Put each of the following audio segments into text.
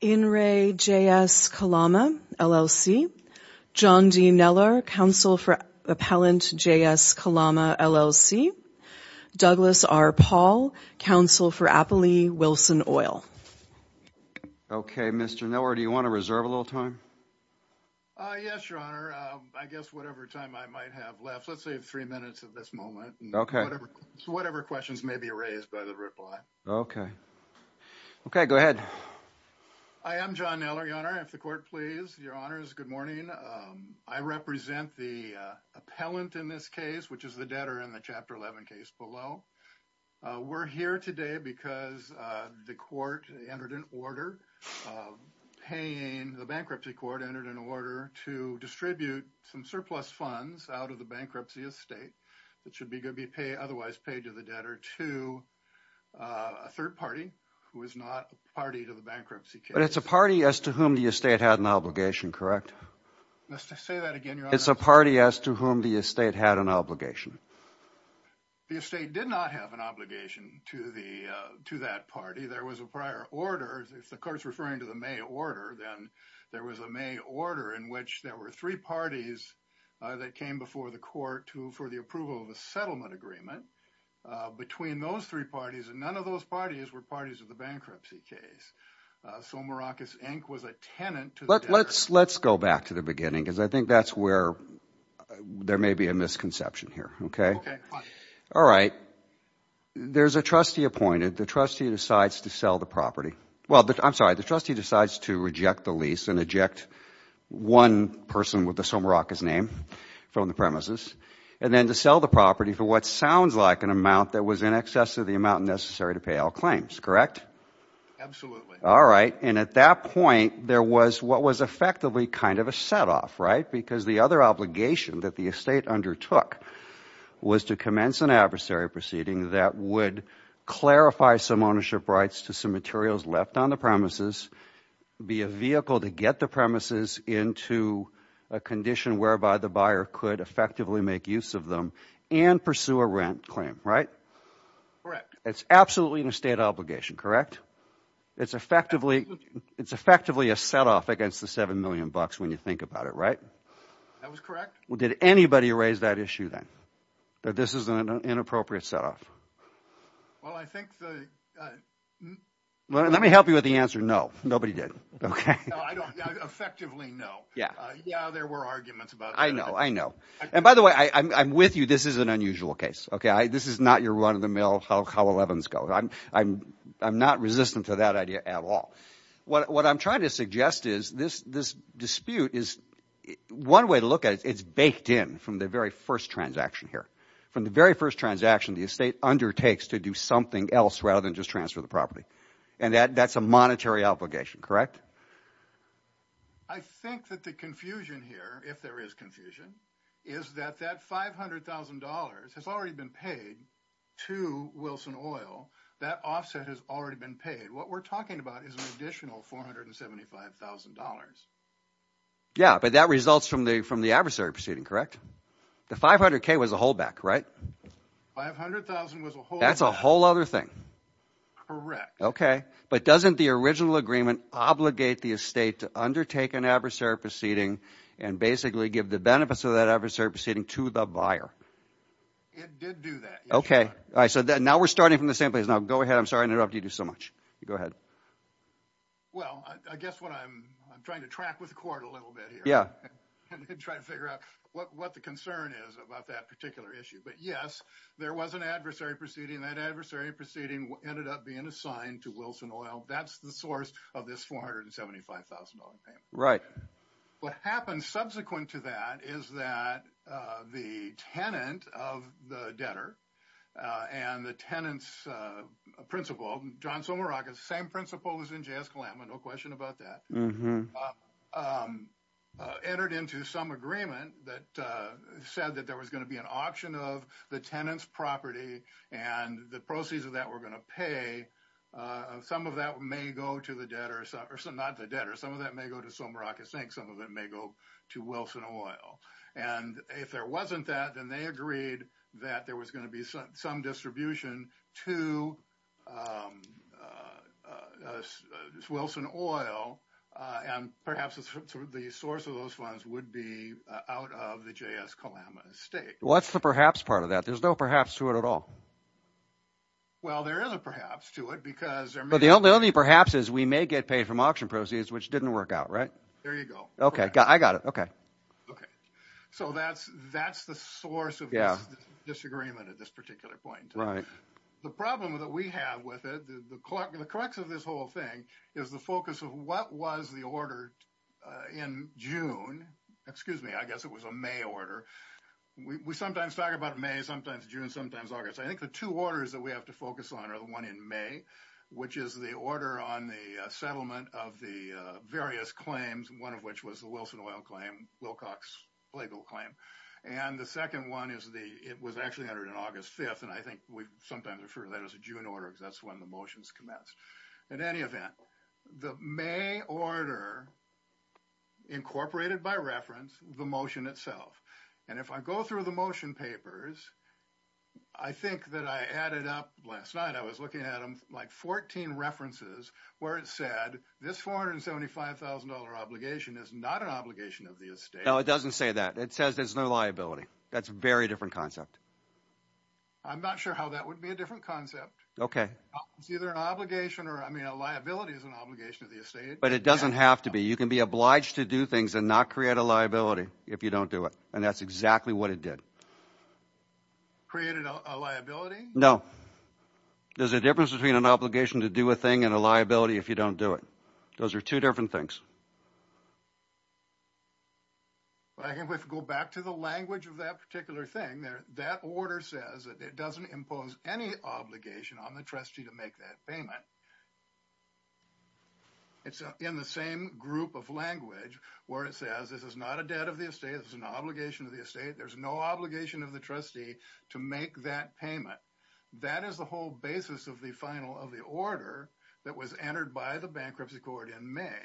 In re JS Kalama, LLC. John D. Neller, counsel for Appellant JS Kalama, LLC. Douglas R. Paul, counsel for Appley Wilson Oil. Okay, Mr. Neller, do you want to reserve a little time? Yes, Your Honor. I guess whatever time I might have left. Let's say three minutes at this moment. Okay. Whatever questions may be raised by the reply. Okay. Okay, go ahead. I am John Neller, Your Honor. If the court please. Your Honors, good morning. I represent the appellant in this case, which is the debtor in the Chapter 11 case below. We're here today because the court entered an order paying, the bankruptcy court entered an order to distribute some surplus funds out of the bankruptcy estate that should be going to be otherwise paid to the debtor to a third party who is not a party to the bankruptcy case. But it's a party as to whom the estate had an obligation, correct? Let's just say that again, Your Honor. It's a party as to whom the estate had an obligation. The estate did not have an obligation to the, to that party. There was a prior order, if the court is referring to the May order, then there was a May order in which there were three parties that came before the court to, for the approval of a settlement agreement. Between those three parties, and none of those parties were parties of the bankruptcy case. Somaracas, Inc. was a tenant to the debtor. Let's, let's go back to the beginning, because I think that's where there may be a misconception here, okay? Okay, fine. All right, there's a trustee appointed. The trustee decides to sell the property. Well, I'm sorry, the trustee decides to reject the lease and eject one person with the Somaracas name from the premises, and then to sell the property for what sounds like an amount that was in excess of the amount necessary to pay all claims, correct? Absolutely. All right, and at that point, there was what was effectively kind of a setoff, right? Because the other obligation that the estate undertook was to commence an adversary proceeding that would clarify some ownership rights to some materials left on the premises, be a vehicle to get the premises into a condition whereby the buyer could effectively make use of them and pursue a rent claim, right? Correct. It's absolutely an estate obligation, correct? It's effectively, it's effectively a setoff against the seven million bucks when you think about it, right? That was correct. Well, did anybody raise that issue then, that this is an inappropriate setoff? Well, I think the... Let me help you with the answer, no. Nobody did, okay? No, I don't, yeah, effectively no. Yeah. Yeah, there were arguments about that. I know, I know. And by the way, I'm with you, this is an unusual case, okay? This is not your run-of-the-mill, how elevens go. I'm not resistant to that idea at all. What I'm trying to suggest is this dispute is, one way to look at it, it's baked in from the very first transaction here. From the very first transaction the estate undertakes to do something else rather than just transfer the property. And that's a monetary obligation, correct? I think that the confusion here, if there is confusion, is that that $500,000 has already been paid to Wilson Oil. That offset has already been paid. What we're talking about is an additional $475,000. Yeah, but that results from the, from the adversary proceeding, correct? The 500k was a holdback, right? That's a whole other thing. Correct. Okay, but doesn't the original agreement obligate the estate to undertake an adversary proceeding and basically give the benefits of that adversary proceeding to the buyer? It did do that. Okay, I said that now we're starting from the same place. Now go ahead, I'm sorry I interrupted you so much. Go ahead. Well, I guess what I'm, I'm trying to track with the court a little bit here. Yeah. And try to figure out what the concern is about that particular issue. But yes, there was an adversary proceeding. That adversary proceeding ended up being assigned to Wilson Oil. That's the source of this $475,000 payment. Right. What happens subsequent to that is that the tenant of the debtor and the tenant's principal, John Somerakis, same principal was in JS Kalama, no question about that. Entered into some agreement that said that there was going to be an auction of the tenant's property and the proceeds of that we're going to pay. Some of that may go to the debtor, not the debtor, some of that may go to Somerakis, I think some of it may go to Wilson Oil. And if there wasn't that, then they agreed that there was going to be some distribution to Wilson Oil and perhaps the source of those funds would be out of the JS Kalama estate. What's the perhaps part of that? There's no perhaps to it at all. Well, there is a perhaps to it because there may be. But the only perhaps is we may get paid from auction proceeds which didn't work out, right? There you go. Okay. I got it. Okay. Okay. So that's the source of this disagreement at this particular point. Right. The problem that we have with it, the crux of this whole thing is the focus of what was the order in June. Excuse me. I guess it was a May order. We sometimes talk about May, sometimes June, sometimes August. I think the two orders that we have to focus on are the one in May, which is the order on the settlement of the various claims, one of which was the Wilson Oil claim, Wilcox legal claim. And the second one is the it was actually entered in August 5th. And I think we sometimes refer to that as a June order because that's when the motions commence. In any event, the May order incorporated by reference, the motion itself. And if I go through the motion papers, I think that I added up last night I was looking at them like 14 references where it said this $475,000 obligation is not an obligation of the estate. No, it doesn't say that. It says there's no liability. That's a very different concept. I'm not sure how that would be a different concept. Okay. It's either an obligation or I mean, a liability is an obligation of the estate. But it doesn't have to be. You can be obliged to do things and not create a liability if you don't do it. And that's exactly what it did. Created a liability? No. There's a difference between an obligation to do a thing and a liability if you don't do it. Those are two different things. I can go back to the language of that particular thing there. That order says that it doesn't impose any obligation on the trustee to make that payment. It's in the same group of language where it says this is not a debt of the estate is an obligation of the estate. There's no obligation of the trustee to make that payment. That is the whole basis of the final of the order that was entered by the bankruptcy court in May.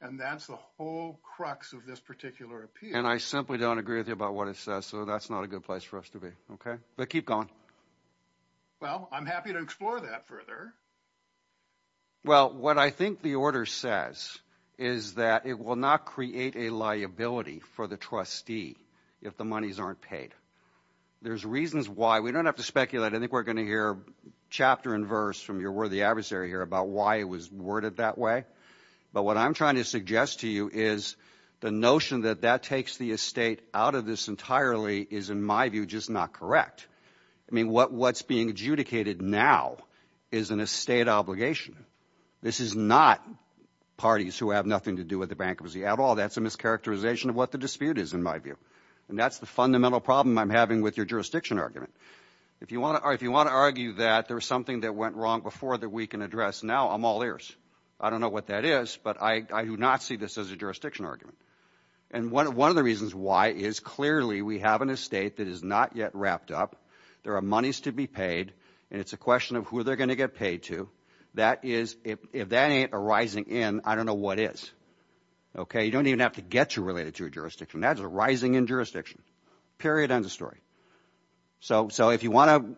And that's the whole crux of this particular appeal. And I simply don't agree with you about what it says. So that's not a good place for us to be. Okay. But keep going. Well, I'm happy to explore that further. Well, what I think the order says is that it will not create a liability for the trustee if the monies aren't paid. There's reasons why. We don't have to speculate. I think we're going to hear chapter and verse from your worthy adversary here about why it was worded that way. But what I'm trying to suggest to you is the notion that that takes the estate out of this entirely is, in my view, just not correct. I mean, what what's being adjudicated now is an estate obligation. This is not parties who have nothing to do with the bankruptcy at all. That's a mischaracterization of what the dispute is, in my view. And that's the fundamental problem I'm having with your jurisdiction argument. If you want to argue that there was something that went wrong before that we can address now, I'm all ears. I don't know what that is, but I do not see this as a jurisdiction argument. And one of the reasons why is clearly we have an estate that is not yet wrapped up. There are monies to be paid. And it's a question of who they're going to get paid to. That is, if that ain't a rising in, I don't know what is. OK, you don't even have to get too related to a jurisdiction. That's a rising in jurisdiction. Period. End of story. So so if you want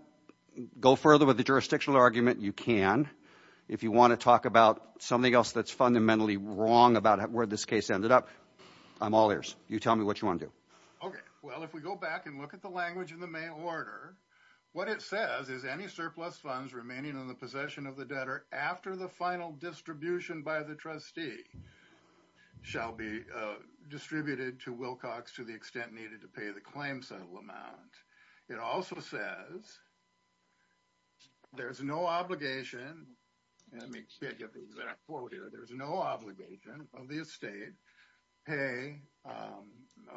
to go further with the jurisdictional argument, you can. If you want to talk about something else that's fundamentally wrong about where this case ended up, I'm all ears. You tell me what you want to do. OK, well, if we go back and look at the language in the mail order, what it says is any surplus funds remaining in the possession of the debtor after the final distribution by the trustee. Shall be distributed to Wilcox to the extent needed to pay the claim settle amount. It also says. There is no obligation. And I mean, there's no obligation of the estate pay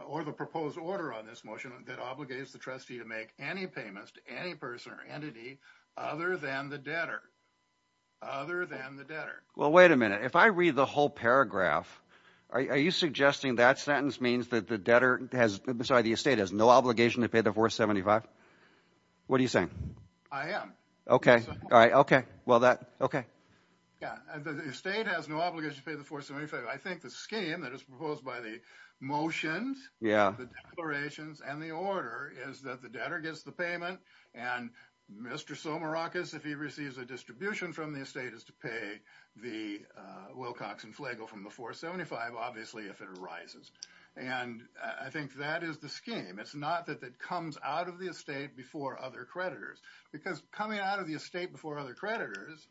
or the proposed order on this motion that obligates the trustee to make any payments to any person or entity other than the debtor. Well, wait a minute. If I read the whole paragraph, are you suggesting that sentence means that the debtor has beside the estate has no obligation to pay the 475? What are you saying? I am. OK. All right. OK. Well, that. OK. Yeah. The state has no obligation to pay the 475. I think the scheme that is proposed by the motions. Yeah, the declarations and the order is that the debtor gets the payment. And Mr. So Maracas, if he receives a distribution from the estate is to pay the Wilcox and Flagle from the 475, obviously, if it arises. And I think that is the scheme. It's not that that comes out of the estate before other creditors, because coming out of the estate before other creditors,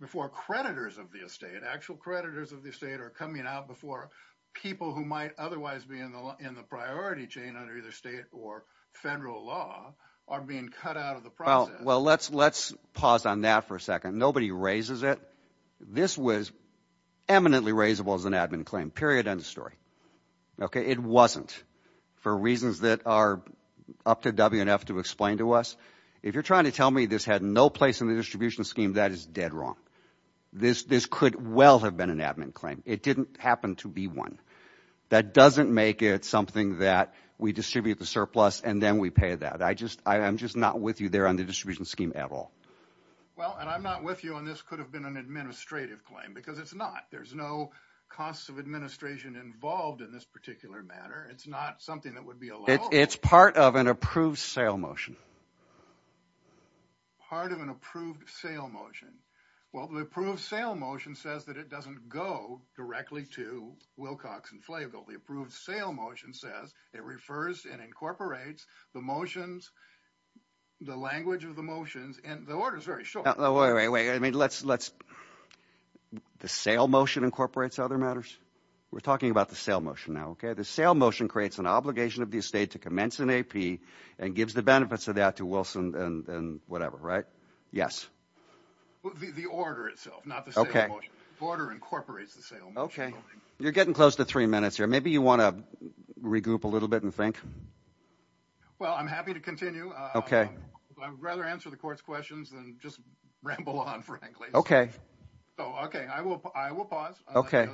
before creditors of the estate, actual creditors of the state are coming out before people who might otherwise be in the loan. In the priority chain under either state or federal law are being cut out of the. Well, well, let's let's pause on that for a second. Nobody raises it. This was eminently raisable as an admin claim. Period. End of story. OK. It wasn't for reasons that are up to WNF to explain to us. If you're trying to tell me this had no place in the distribution scheme, that is dead wrong. This this could well have been an admin claim. It didn't happen to be one that doesn't make it something that we distribute the surplus and then we pay that. I just I am just not with you there on the distribution scheme at all. Well, and I'm not with you on this could have been an administrative claim because it's not there's no cost of administration involved in this particular matter. It's not something that would be it's part of an approved sale motion. Part of an approved sale motion. Well, the approved sale motion says that it doesn't go directly to Wilcox and Flagle. The approved sale motion says it refers and incorporates the motions, the language of the motions, and the order is very short. Wait, wait, wait. I mean, let's let's the sale motion incorporates other matters. We're talking about the sale motion now. OK, the sale motion creates an obligation of the estate to commence an AP and gives the benefits of that to Wilson and whatever. Right. Yes. The order itself, not the border incorporates the sale. OK, you're getting close to three minutes here. Maybe you want to regroup a little bit and think. Well, I'm happy to continue. OK, I'd rather answer the court's questions than just ramble on. OK. Oh, OK. I will. I will pause. OK.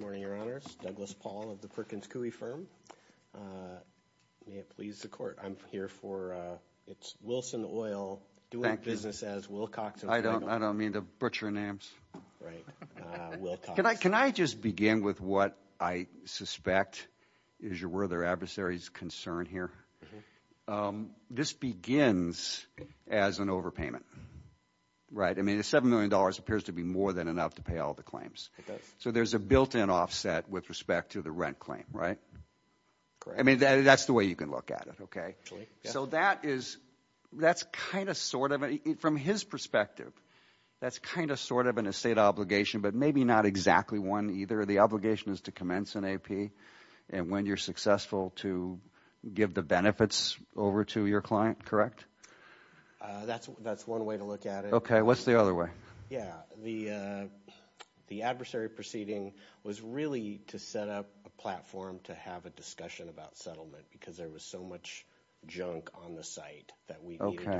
Morning, Your Honors. Douglas Paul of the Perkins Coie firm. May it please the court. I'm here for it's Wilson Oil doing business as Wilcox. I don't I don't mean to butcher names. Right. Can I just begin with what I suspect is your were their adversaries concern here? This begins as an overpayment. Right. I mean, the seven million dollars appears to be more than enough to pay all the claims. So there's a built in offset with respect to the rent claim. Right. I mean, that's the way you can look at it. OK, so that is that's kind of sort of from his perspective. That's kind of sort of in a state obligation, but maybe not exactly one either. The obligation is to commence an AP. And when you're successful to give the benefits over to your client. Correct. That's that's one way to look at it. OK, what's the other way? Yeah. The the adversary proceeding was really to set up a platform to have a discussion about settlement because there was so much junk on the site that we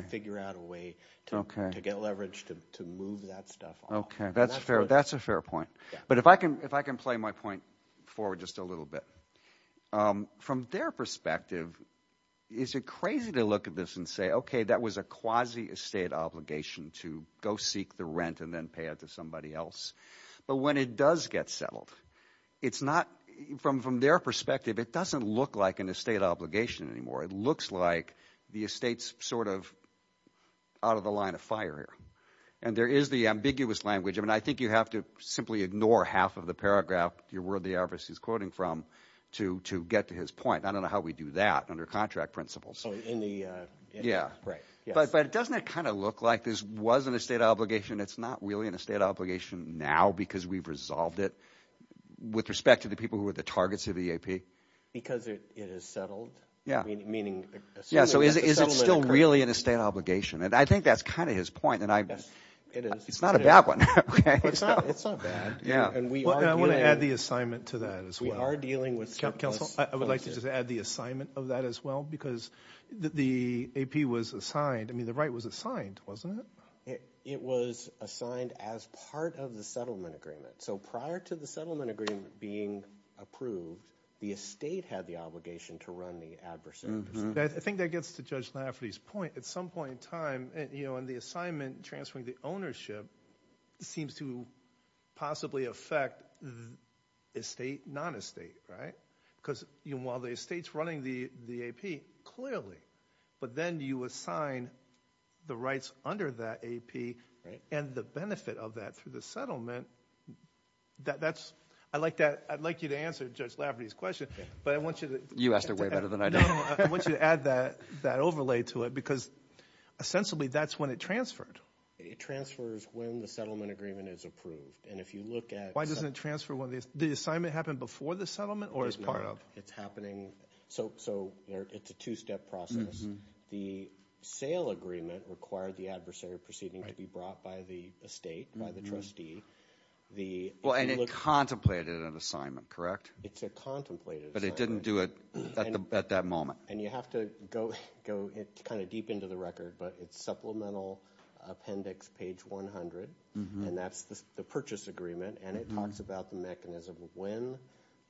figure out a way to get leverage. To move that stuff. OK, that's fair. That's a fair point. But if I can if I can play my point forward just a little bit from their perspective, is it crazy to look at this and say, OK, that was a quasi estate obligation to go seek the rent and then pay it to somebody else. But when it does get settled, it's not from from their perspective, it doesn't look like an estate obligation anymore. It looks like the estate's sort of out of the line of fire here. And there is the ambiguous language. I mean, I think you have to simply ignore half of the paragraph. You're worthy of his quoting from to to get to his point. I don't know how we do that under contract principles in the. Yeah, right. But it doesn't kind of look like this was an estate obligation. It's not really an estate obligation now because we've resolved it with respect to the people who are the targets of the AP because it is settled. Yeah. Meaning. Yeah. So is it still really an estate obligation? And I think that's kind of his point. And I guess it is. It's not a bad one. It's not. It's not bad. Yeah. And we want to add the assignment to that as we are dealing with. I would like to just add the assignment of that as well, because the AP was assigned. I mean, the right was assigned, wasn't it? It was assigned as part of the settlement agreement. So prior to the settlement agreement being approved, the estate had the obligation to run the adverse. I think that gets to Judge Lafferty's point at some point in time. And, you know, and the assignment transferring the ownership seems to possibly affect the estate, not a state. Right. Because, you know, while the estate's running the the AP, clearly. But then you assign the rights under that AP and the benefit of that through the settlement. That's I like that. I'd like you to answer Judge Lafferty's question. But I want you to. You asked her way better than I do. I want you to add that that overlay to it, because essentially that's when it transferred. It transfers when the settlement agreement is approved. And if you look at why doesn't it transfer when the assignment happened before the settlement or as part of it's happening. So so it's a two step process. The sale agreement required the adversary proceeding to be brought by the estate, by the trustee. The well, and it contemplated an assignment, correct? It's a contemplated, but it didn't do it at that moment. And you have to go go kind of deep into the record. But it's supplemental appendix page one hundred. And that's the purchase agreement. And it talks about the mechanism of when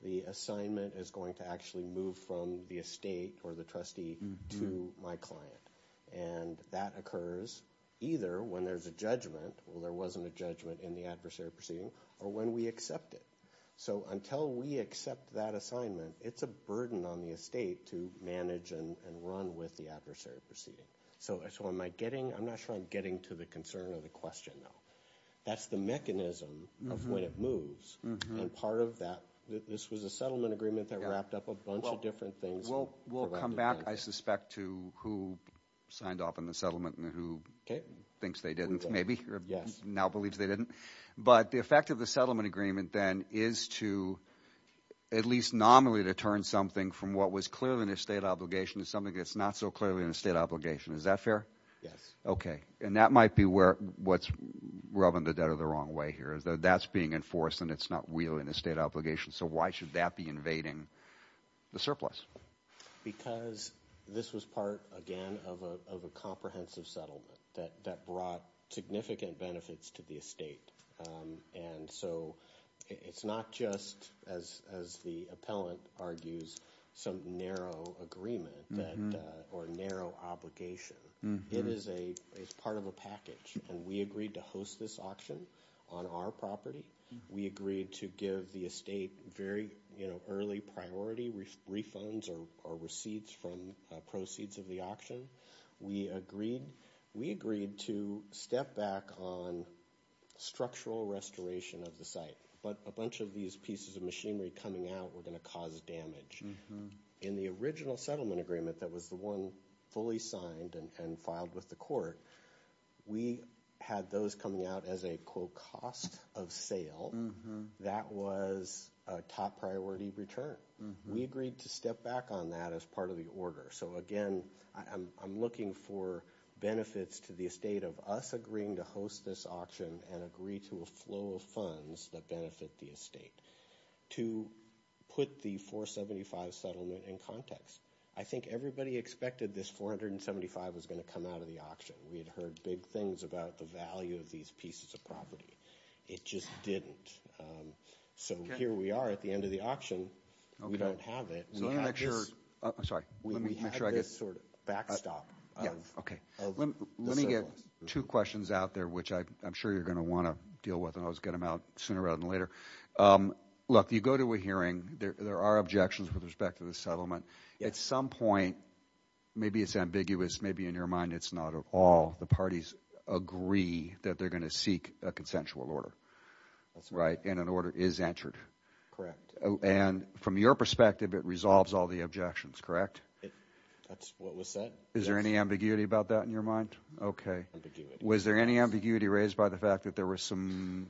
the assignment is going to actually move from the estate or the trustee to my client. And that occurs either when there's a judgment. Well, there wasn't a judgment in the adversary proceeding or when we accept it. So until we accept that assignment, it's a burden on the estate to manage and run with the adversary proceeding. So so am I getting I'm not sure I'm getting to the concern of the question, though. That's the mechanism of when it moves. And part of that, this was a settlement agreement that wrapped up a bunch of different things. Well, we'll come back, I suspect, to who signed off on the settlement and who thinks they didn't. Maybe. Yes. Now believes they didn't. But the effect of the settlement agreement, then, is to at least nominally to turn something from what was clearly an estate obligation to something that's not so clearly an estate obligation. Is that fair? Yes. OK. And that might be where what's rubbing the dead of the wrong way here is that that's being enforced and it's not really an estate obligation. So why should that be invading the surplus? Because this was part, again, of a comprehensive settlement that brought significant benefits to the estate. And so it's not just as as the appellant argues, some narrow agreement or narrow obligation. It is a it's part of a package. And we agreed to host this auction on our property. We agreed to give the estate very early priority refunds or receipts from proceeds of the auction. We agreed we agreed to step back on structural restoration of the site. But a bunch of these pieces of machinery coming out were going to cause damage in the original settlement agreement. That was the one fully signed and filed with the court. We had those coming out as a cost of sale. That was a top priority return. We agreed to step back on that as part of the order. So, again, I'm looking for benefits to the estate of us agreeing to host this auction and agree to a flow of funds that benefit the estate to put the 475 settlement in context. I think everybody expected this 475 was going to come out of the auction. We had heard big things about the value of these pieces of property. It just didn't. So here we are at the end of the auction. We don't have it. I'm sorry. We had this sort of backstop. OK, let me get two questions out there, which I'm sure you're going to want to deal with. And I was going to mount sooner rather than later. Look, you go to a hearing. There are objections with respect to the settlement at some point. Maybe it's ambiguous. Maybe in your mind, it's not at all. The parties agree that they're going to seek a consensual order. That's right. And an order is entered. Correct. And from your perspective, it resolves all the objections, correct? That's what was said. Is there any ambiguity about that in your mind? Was there any ambiguity raised by the fact that there were some,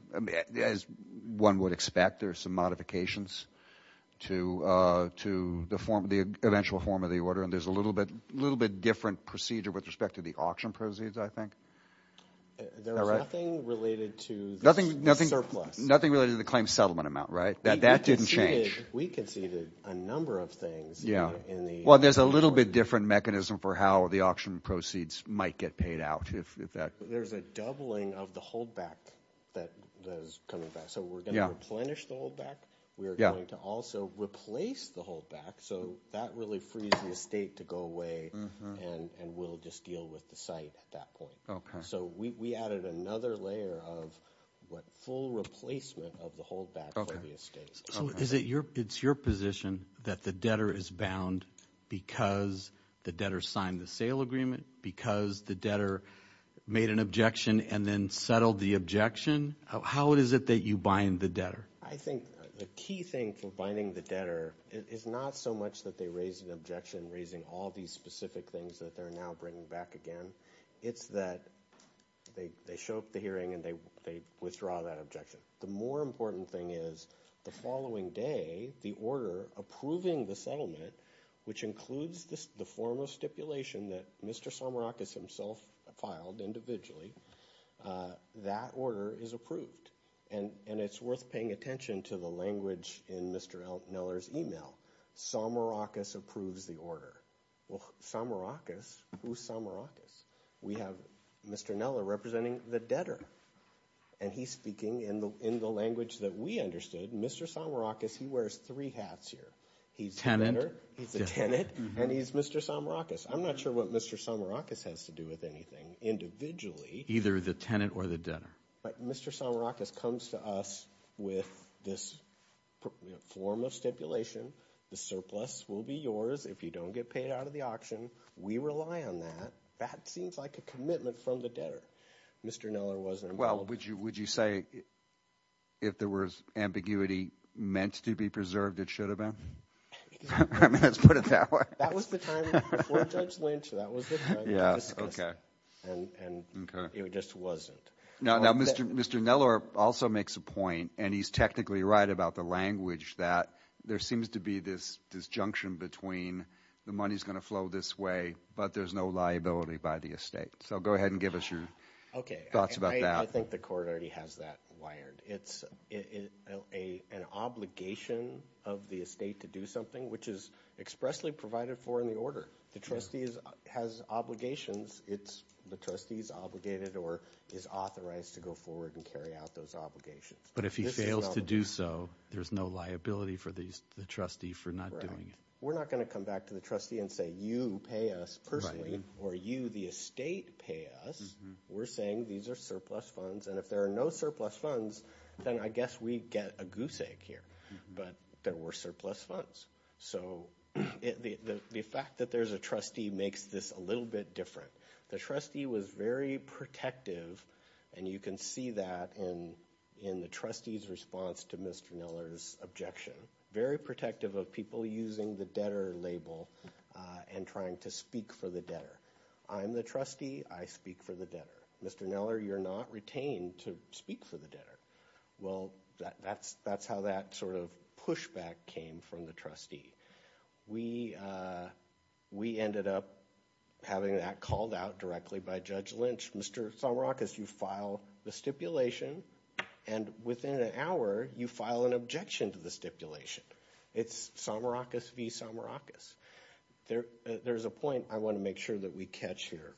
as one would expect, there were some modifications to the eventual form of the order? And there's a little bit different procedure with respect to the auction proceeds, I think. There was nothing related to the surplus. Nothing related to the claim settlement amount, right? That didn't change. We conceded a number of things. Well, there's a little bit different mechanism for how the auction proceeds might get paid out. There's a doubling of the holdback that is coming back. So we're going to replenish the holdback. We are going to also replace the holdback. So that really frees the estate to go away and we'll just deal with the site at that point. So we added another layer of full replacement of the holdback for the estate. So it's your position that the debtor is bound because the debtor signed the sale agreement, because the debtor made an objection and then settled the objection? How is it that you bind the debtor? I think the key thing for binding the debtor is not so much that they raise an objection, raising all these specific things that they're now bringing back again. It's that they show up at the hearing and they withdraw that objection. The more important thing is the following day, the order approving the settlement, which includes the form of stipulation that Mr. Samarakis himself filed individually, that order is approved. And it's worth paying attention to the language in Mr. Neller's email. Samarakis approves the order. Well, Samarakis, who's Samarakis? We have Mr. Neller representing the debtor, and he's speaking in the language that we understood. Mr. Samarakis, he wears three hats here. He's the tenant and he's Mr. Samarakis. I'm not sure what Mr. Samarakis has to do with anything individually. Either the tenant or the debtor. But Mr. Samarakis comes to us with this form of stipulation. The surplus will be yours if you don't get paid out of the auction. We rely on that. That seems like a commitment from the debtor. Mr. Neller wasn't involved. Well, would you say if there was ambiguity meant to be preserved, it should have been? I mean, let's put it that way. That was the time before Judge Lynch. That was the time we discussed it. And it just wasn't. Now, Mr. Neller also makes a point, and he's technically right about the language, that there seems to be this disjunction between the money's going to flow this way, but there's no liability by the estate. So go ahead and give us your thoughts about that. I think the court already has that wired. It's an obligation of the estate to do something, which is expressly provided for in the order. The trustee has obligations. The trustee's obligated or is authorized to go forward and carry out those obligations. But if he fails to do so, there's no liability for the trustee for not doing it. We're not going to come back to the trustee and say you pay us personally or you, the estate, pay us. We're saying these are surplus funds. And if there are no surplus funds, then I guess we get a goose egg here. But there were surplus funds. So the fact that there's a trustee makes this a little bit different. The trustee was very protective, and you can see that in the trustee's response to Mr. Neller's objection. Very protective of people using the debtor label and trying to speak for the debtor. I'm the trustee. I speak for the debtor. Mr. Neller, you're not retained to speak for the debtor. Well, that's how that sort of pushback came from the trustee. We ended up having that called out directly by Judge Lynch. Mr. Samarakis, you file the stipulation. And within an hour, you file an objection to the stipulation. It's Samarakis v. Samarakis. There's a point I want to make sure that we catch here.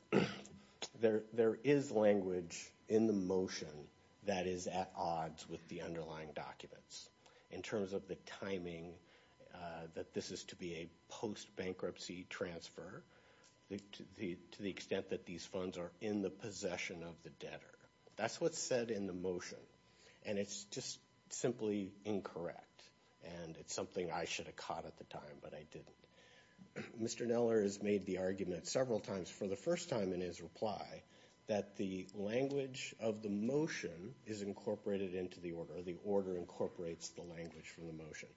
There is language in the motion that is at odds with the underlying documents in terms of the timing that this is to be a post-bankruptcy transfer to the extent that these funds are in the possession of the debtor. That's what's said in the motion, and it's just simply incorrect. And it's something I should have caught at the time, but I didn't. Mr. Neller has made the argument several times for the first time in his reply that the language of the motion is incorporated into the order. The order incorporates the language from the motion.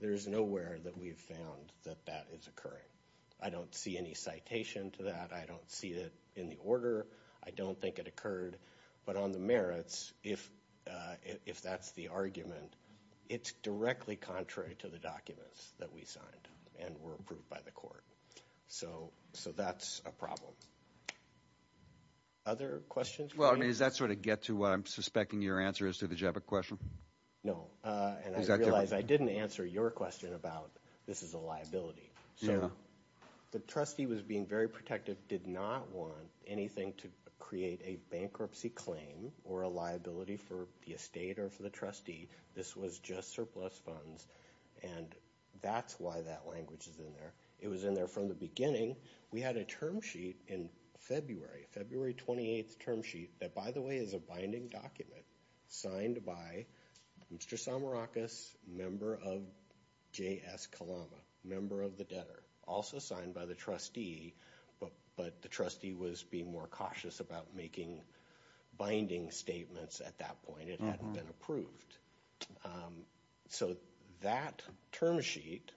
There is nowhere that we have found that that is occurring. I don't see any citation to that. I don't see it in the order. I don't think it occurred. But on the merits, if that's the argument, it's directly contrary to the documents that we signed and were approved by the court. So that's a problem. Other questions? Well, I mean, does that sort of get to what I'm suspecting your answer is to the Jebba question? No, and I realize I didn't answer your question about this is a liability. So the trustee was being very protective, did not want anything to create a bankruptcy claim or a liability for the estate or for the trustee. This was just surplus funds, and that's why that language is in there. It was in there from the beginning. We had a term sheet in February, February 28th term sheet that, by the way, is a binding document signed by Mr. Samarakis, member of J.S. Kalama, member of the debtor, also signed by the trustee. But the trustee was being more cautious about making binding statements at that point. It hadn't been approved. So that term sheet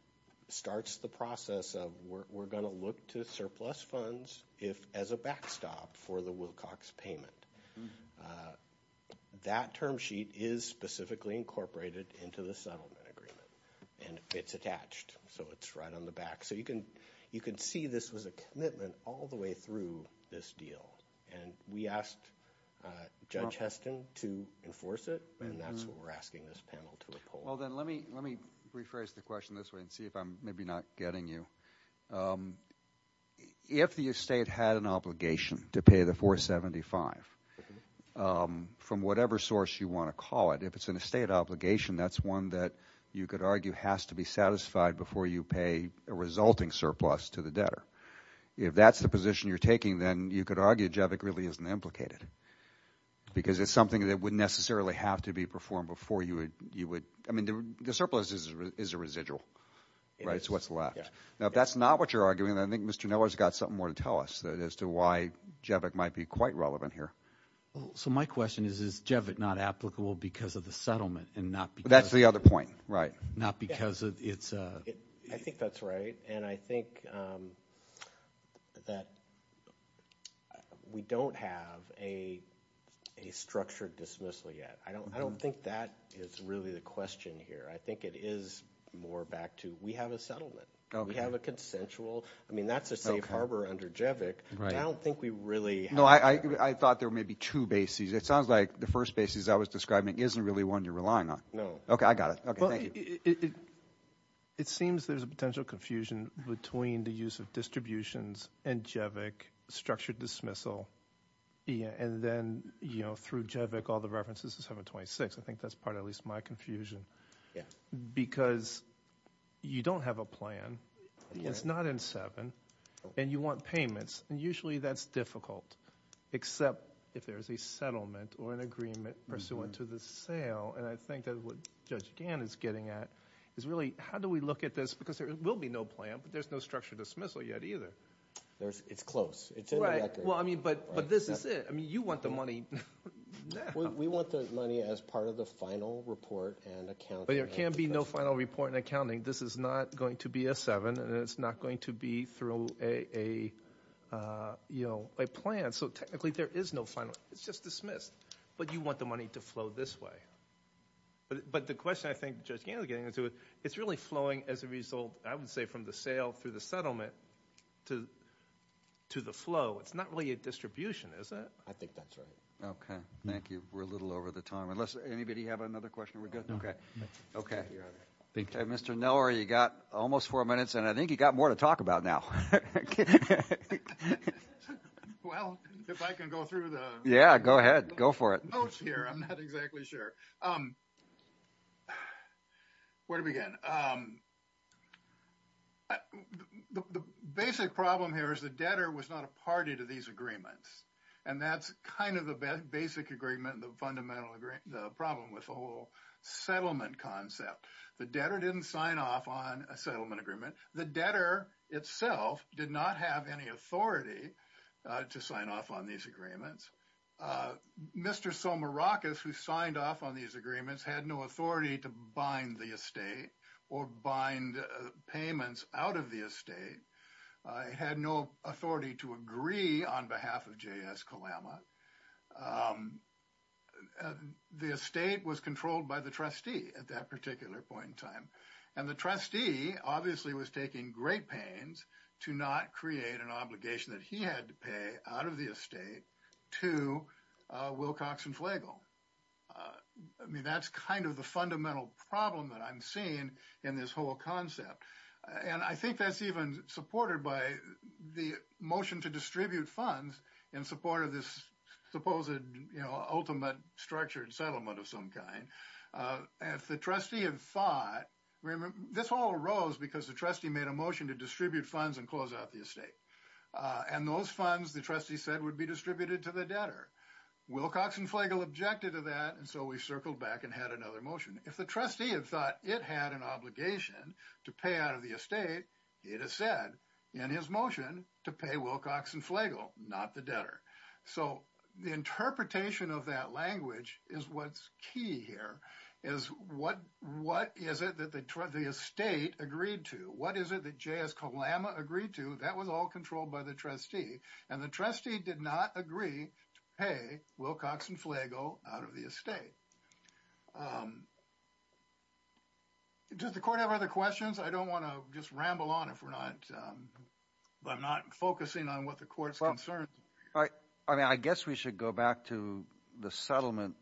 starts the process of we're going to look to surplus funds as a backstop for the Wilcox payment. That term sheet is specifically incorporated into the settlement agreement, and it's attached. So it's right on the back. So you can see this was a commitment all the way through this deal. And we asked Judge Heston to enforce it, and that's what we're asking this panel to oppose. Well, then let me rephrase the question this way and see if I'm maybe not getting you. If the estate had an obligation to pay the 475 from whatever source you want to call it, if it's an estate obligation, that's one that you could argue has to be satisfied before you pay a resulting surplus to the debtor. If that's the position you're taking, then you could argue JEVIC really isn't implicated because it's something that wouldn't necessarily have to be performed before you would. I mean, the surplus is a residual, right? It's what's left. Now, if that's not what you're arguing, then I think Mr. Neller's got something more to tell us as to why JEVIC might be quite relevant here. So my question is, is JEVIC not applicable because of the settlement and not because of it? That's the other point, right. Not because it's a... That we don't have a structured dismissal yet. I don't think that is really the question here. I think it is more back to we have a settlement. We have a consensual... I mean, that's a safe harbor under JEVIC. I don't think we really... No, I thought there were maybe two bases. It sounds like the first base, as I was describing, isn't really one you're relying on. No. Okay, I got it. Okay, thank you. It seems there's a potential confusion between the use of distributions and JEVIC structured dismissal and then through JEVIC all the references to 726. I think that's part of at least my confusion because you don't have a plan. It's not in 7 and you want payments, and usually that's difficult except if there's a settlement or an agreement pursuant to the sale. And I think that's what Judge Gann is getting at is really how do we look at this because there will be no plan, but there's no structured dismissal yet either. It's close. Right, but this is it. I mean, you want the money now. We want the money as part of the final report and accounting. But there can be no final report and accounting. This is not going to be a 7 and it's not going to be through a plan. So technically there is no final... It's just dismissed. But you want the money to flow this way. But the question I think Judge Gann is getting into is it's really flowing as a result, I would say, from the sale through the settlement to the flow. It's not really a distribution, is it? I think that's right. Okay. Thank you. We're a little over the time. Unless anybody have another question, we're good? Okay. Okay. Mr. Neller, you've got almost four minutes, and I think you've got more to talk about now. Well, if I can go through the... Go ahead. Go for it. The notes here, I'm not exactly sure. Where do we begin? The basic problem here is the debtor was not a party to these agreements, and that's kind of the basic agreement, the fundamental agreement, the problem with the whole settlement concept. The debtor didn't sign off on a settlement agreement. The debtor itself did not have any authority to sign off on these agreements. Mr. Somorakis, who signed off on these agreements, had no authority to bind the estate or bind payments out of the estate. He had no authority to agree on behalf of J.S. Kalama. The estate was controlled by the trustee at that particular point in time, and the trustee obviously was taking great pains to not create an obligation that he had to pay out of the estate to Wilcox and Flagle. I mean, that's kind of the fundamental problem that I'm seeing in this whole concept, and I think that's even supported by the motion to distribute funds in support of this supposed ultimate structured settlement of some kind. This all arose because the trustee made a motion to distribute funds and close out the estate, and those funds, the trustee said, would be distributed to the debtor. Wilcox and Flagle objected to that, and so we circled back and had another motion. If the trustee had thought it had an obligation to pay out of the estate, it has said in his motion to pay Wilcox and Flagle, not the debtor. So the interpretation of that language is what's key here, is what is it that the estate agreed to? What is it that J.S. Kalama agreed to? That was all controlled by the trustee, and the trustee did not agree to pay Wilcox and Flagle out of the estate. Does the court have other questions? I don't want to just ramble on if we're not focusing on what the court's concerned. All right. I mean, I guess we should go back to the settlement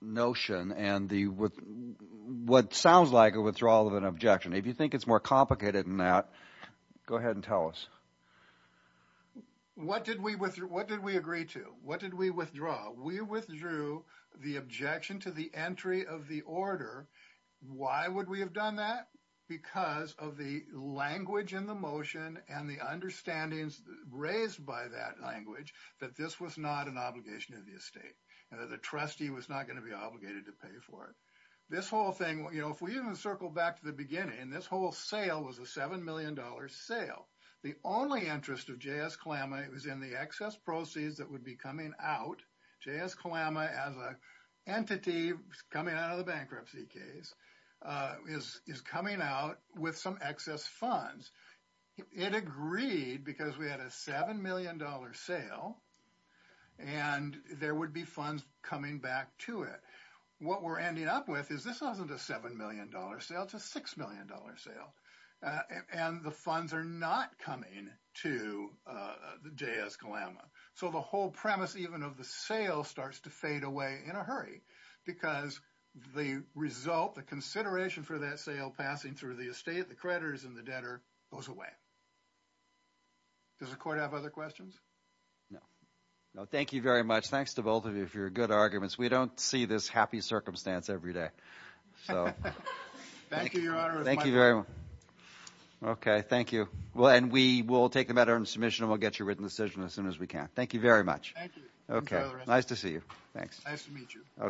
notion and what sounds like a withdrawal of an objection. If you think it's more complicated than that, go ahead and tell us. What did we agree to? What did we withdraw? We withdrew the objection to the entry of the order. Why would we have done that? Because of the language in the motion and the understandings raised by that language that this was not an obligation of the estate, and that the trustee was not going to be obligated to pay for it. This whole thing, if we even circle back to the beginning, this whole sale was a $7 million sale. The only interest of J.S. Kalama was in the excess proceeds that would be coming out. J.S. Kalama, as an entity coming out of the bankruptcy case, is coming out with some excess funds. It agreed because we had a $7 million sale, and there would be funds coming back to it. What we're ending up with is this wasn't a $7 million sale, it's a $6 million sale. And the funds are not coming to J.S. Kalama. So the whole premise even of the sale starts to fade away in a hurry because the result, the consideration for that sale passing through the estate, the creditors, and the debtor goes away. Does the court have other questions? No. No, thank you very much. Thanks to both of you for your good arguments. We don't see this happy circumstance every day. Thank you, Your Honor. Thank you very much. Okay, thank you. And we will take the matter into submission, and we'll get you a written decision as soon as we can. Thank you very much. Thank you. Nice to see you. Thanks. Nice to meet you.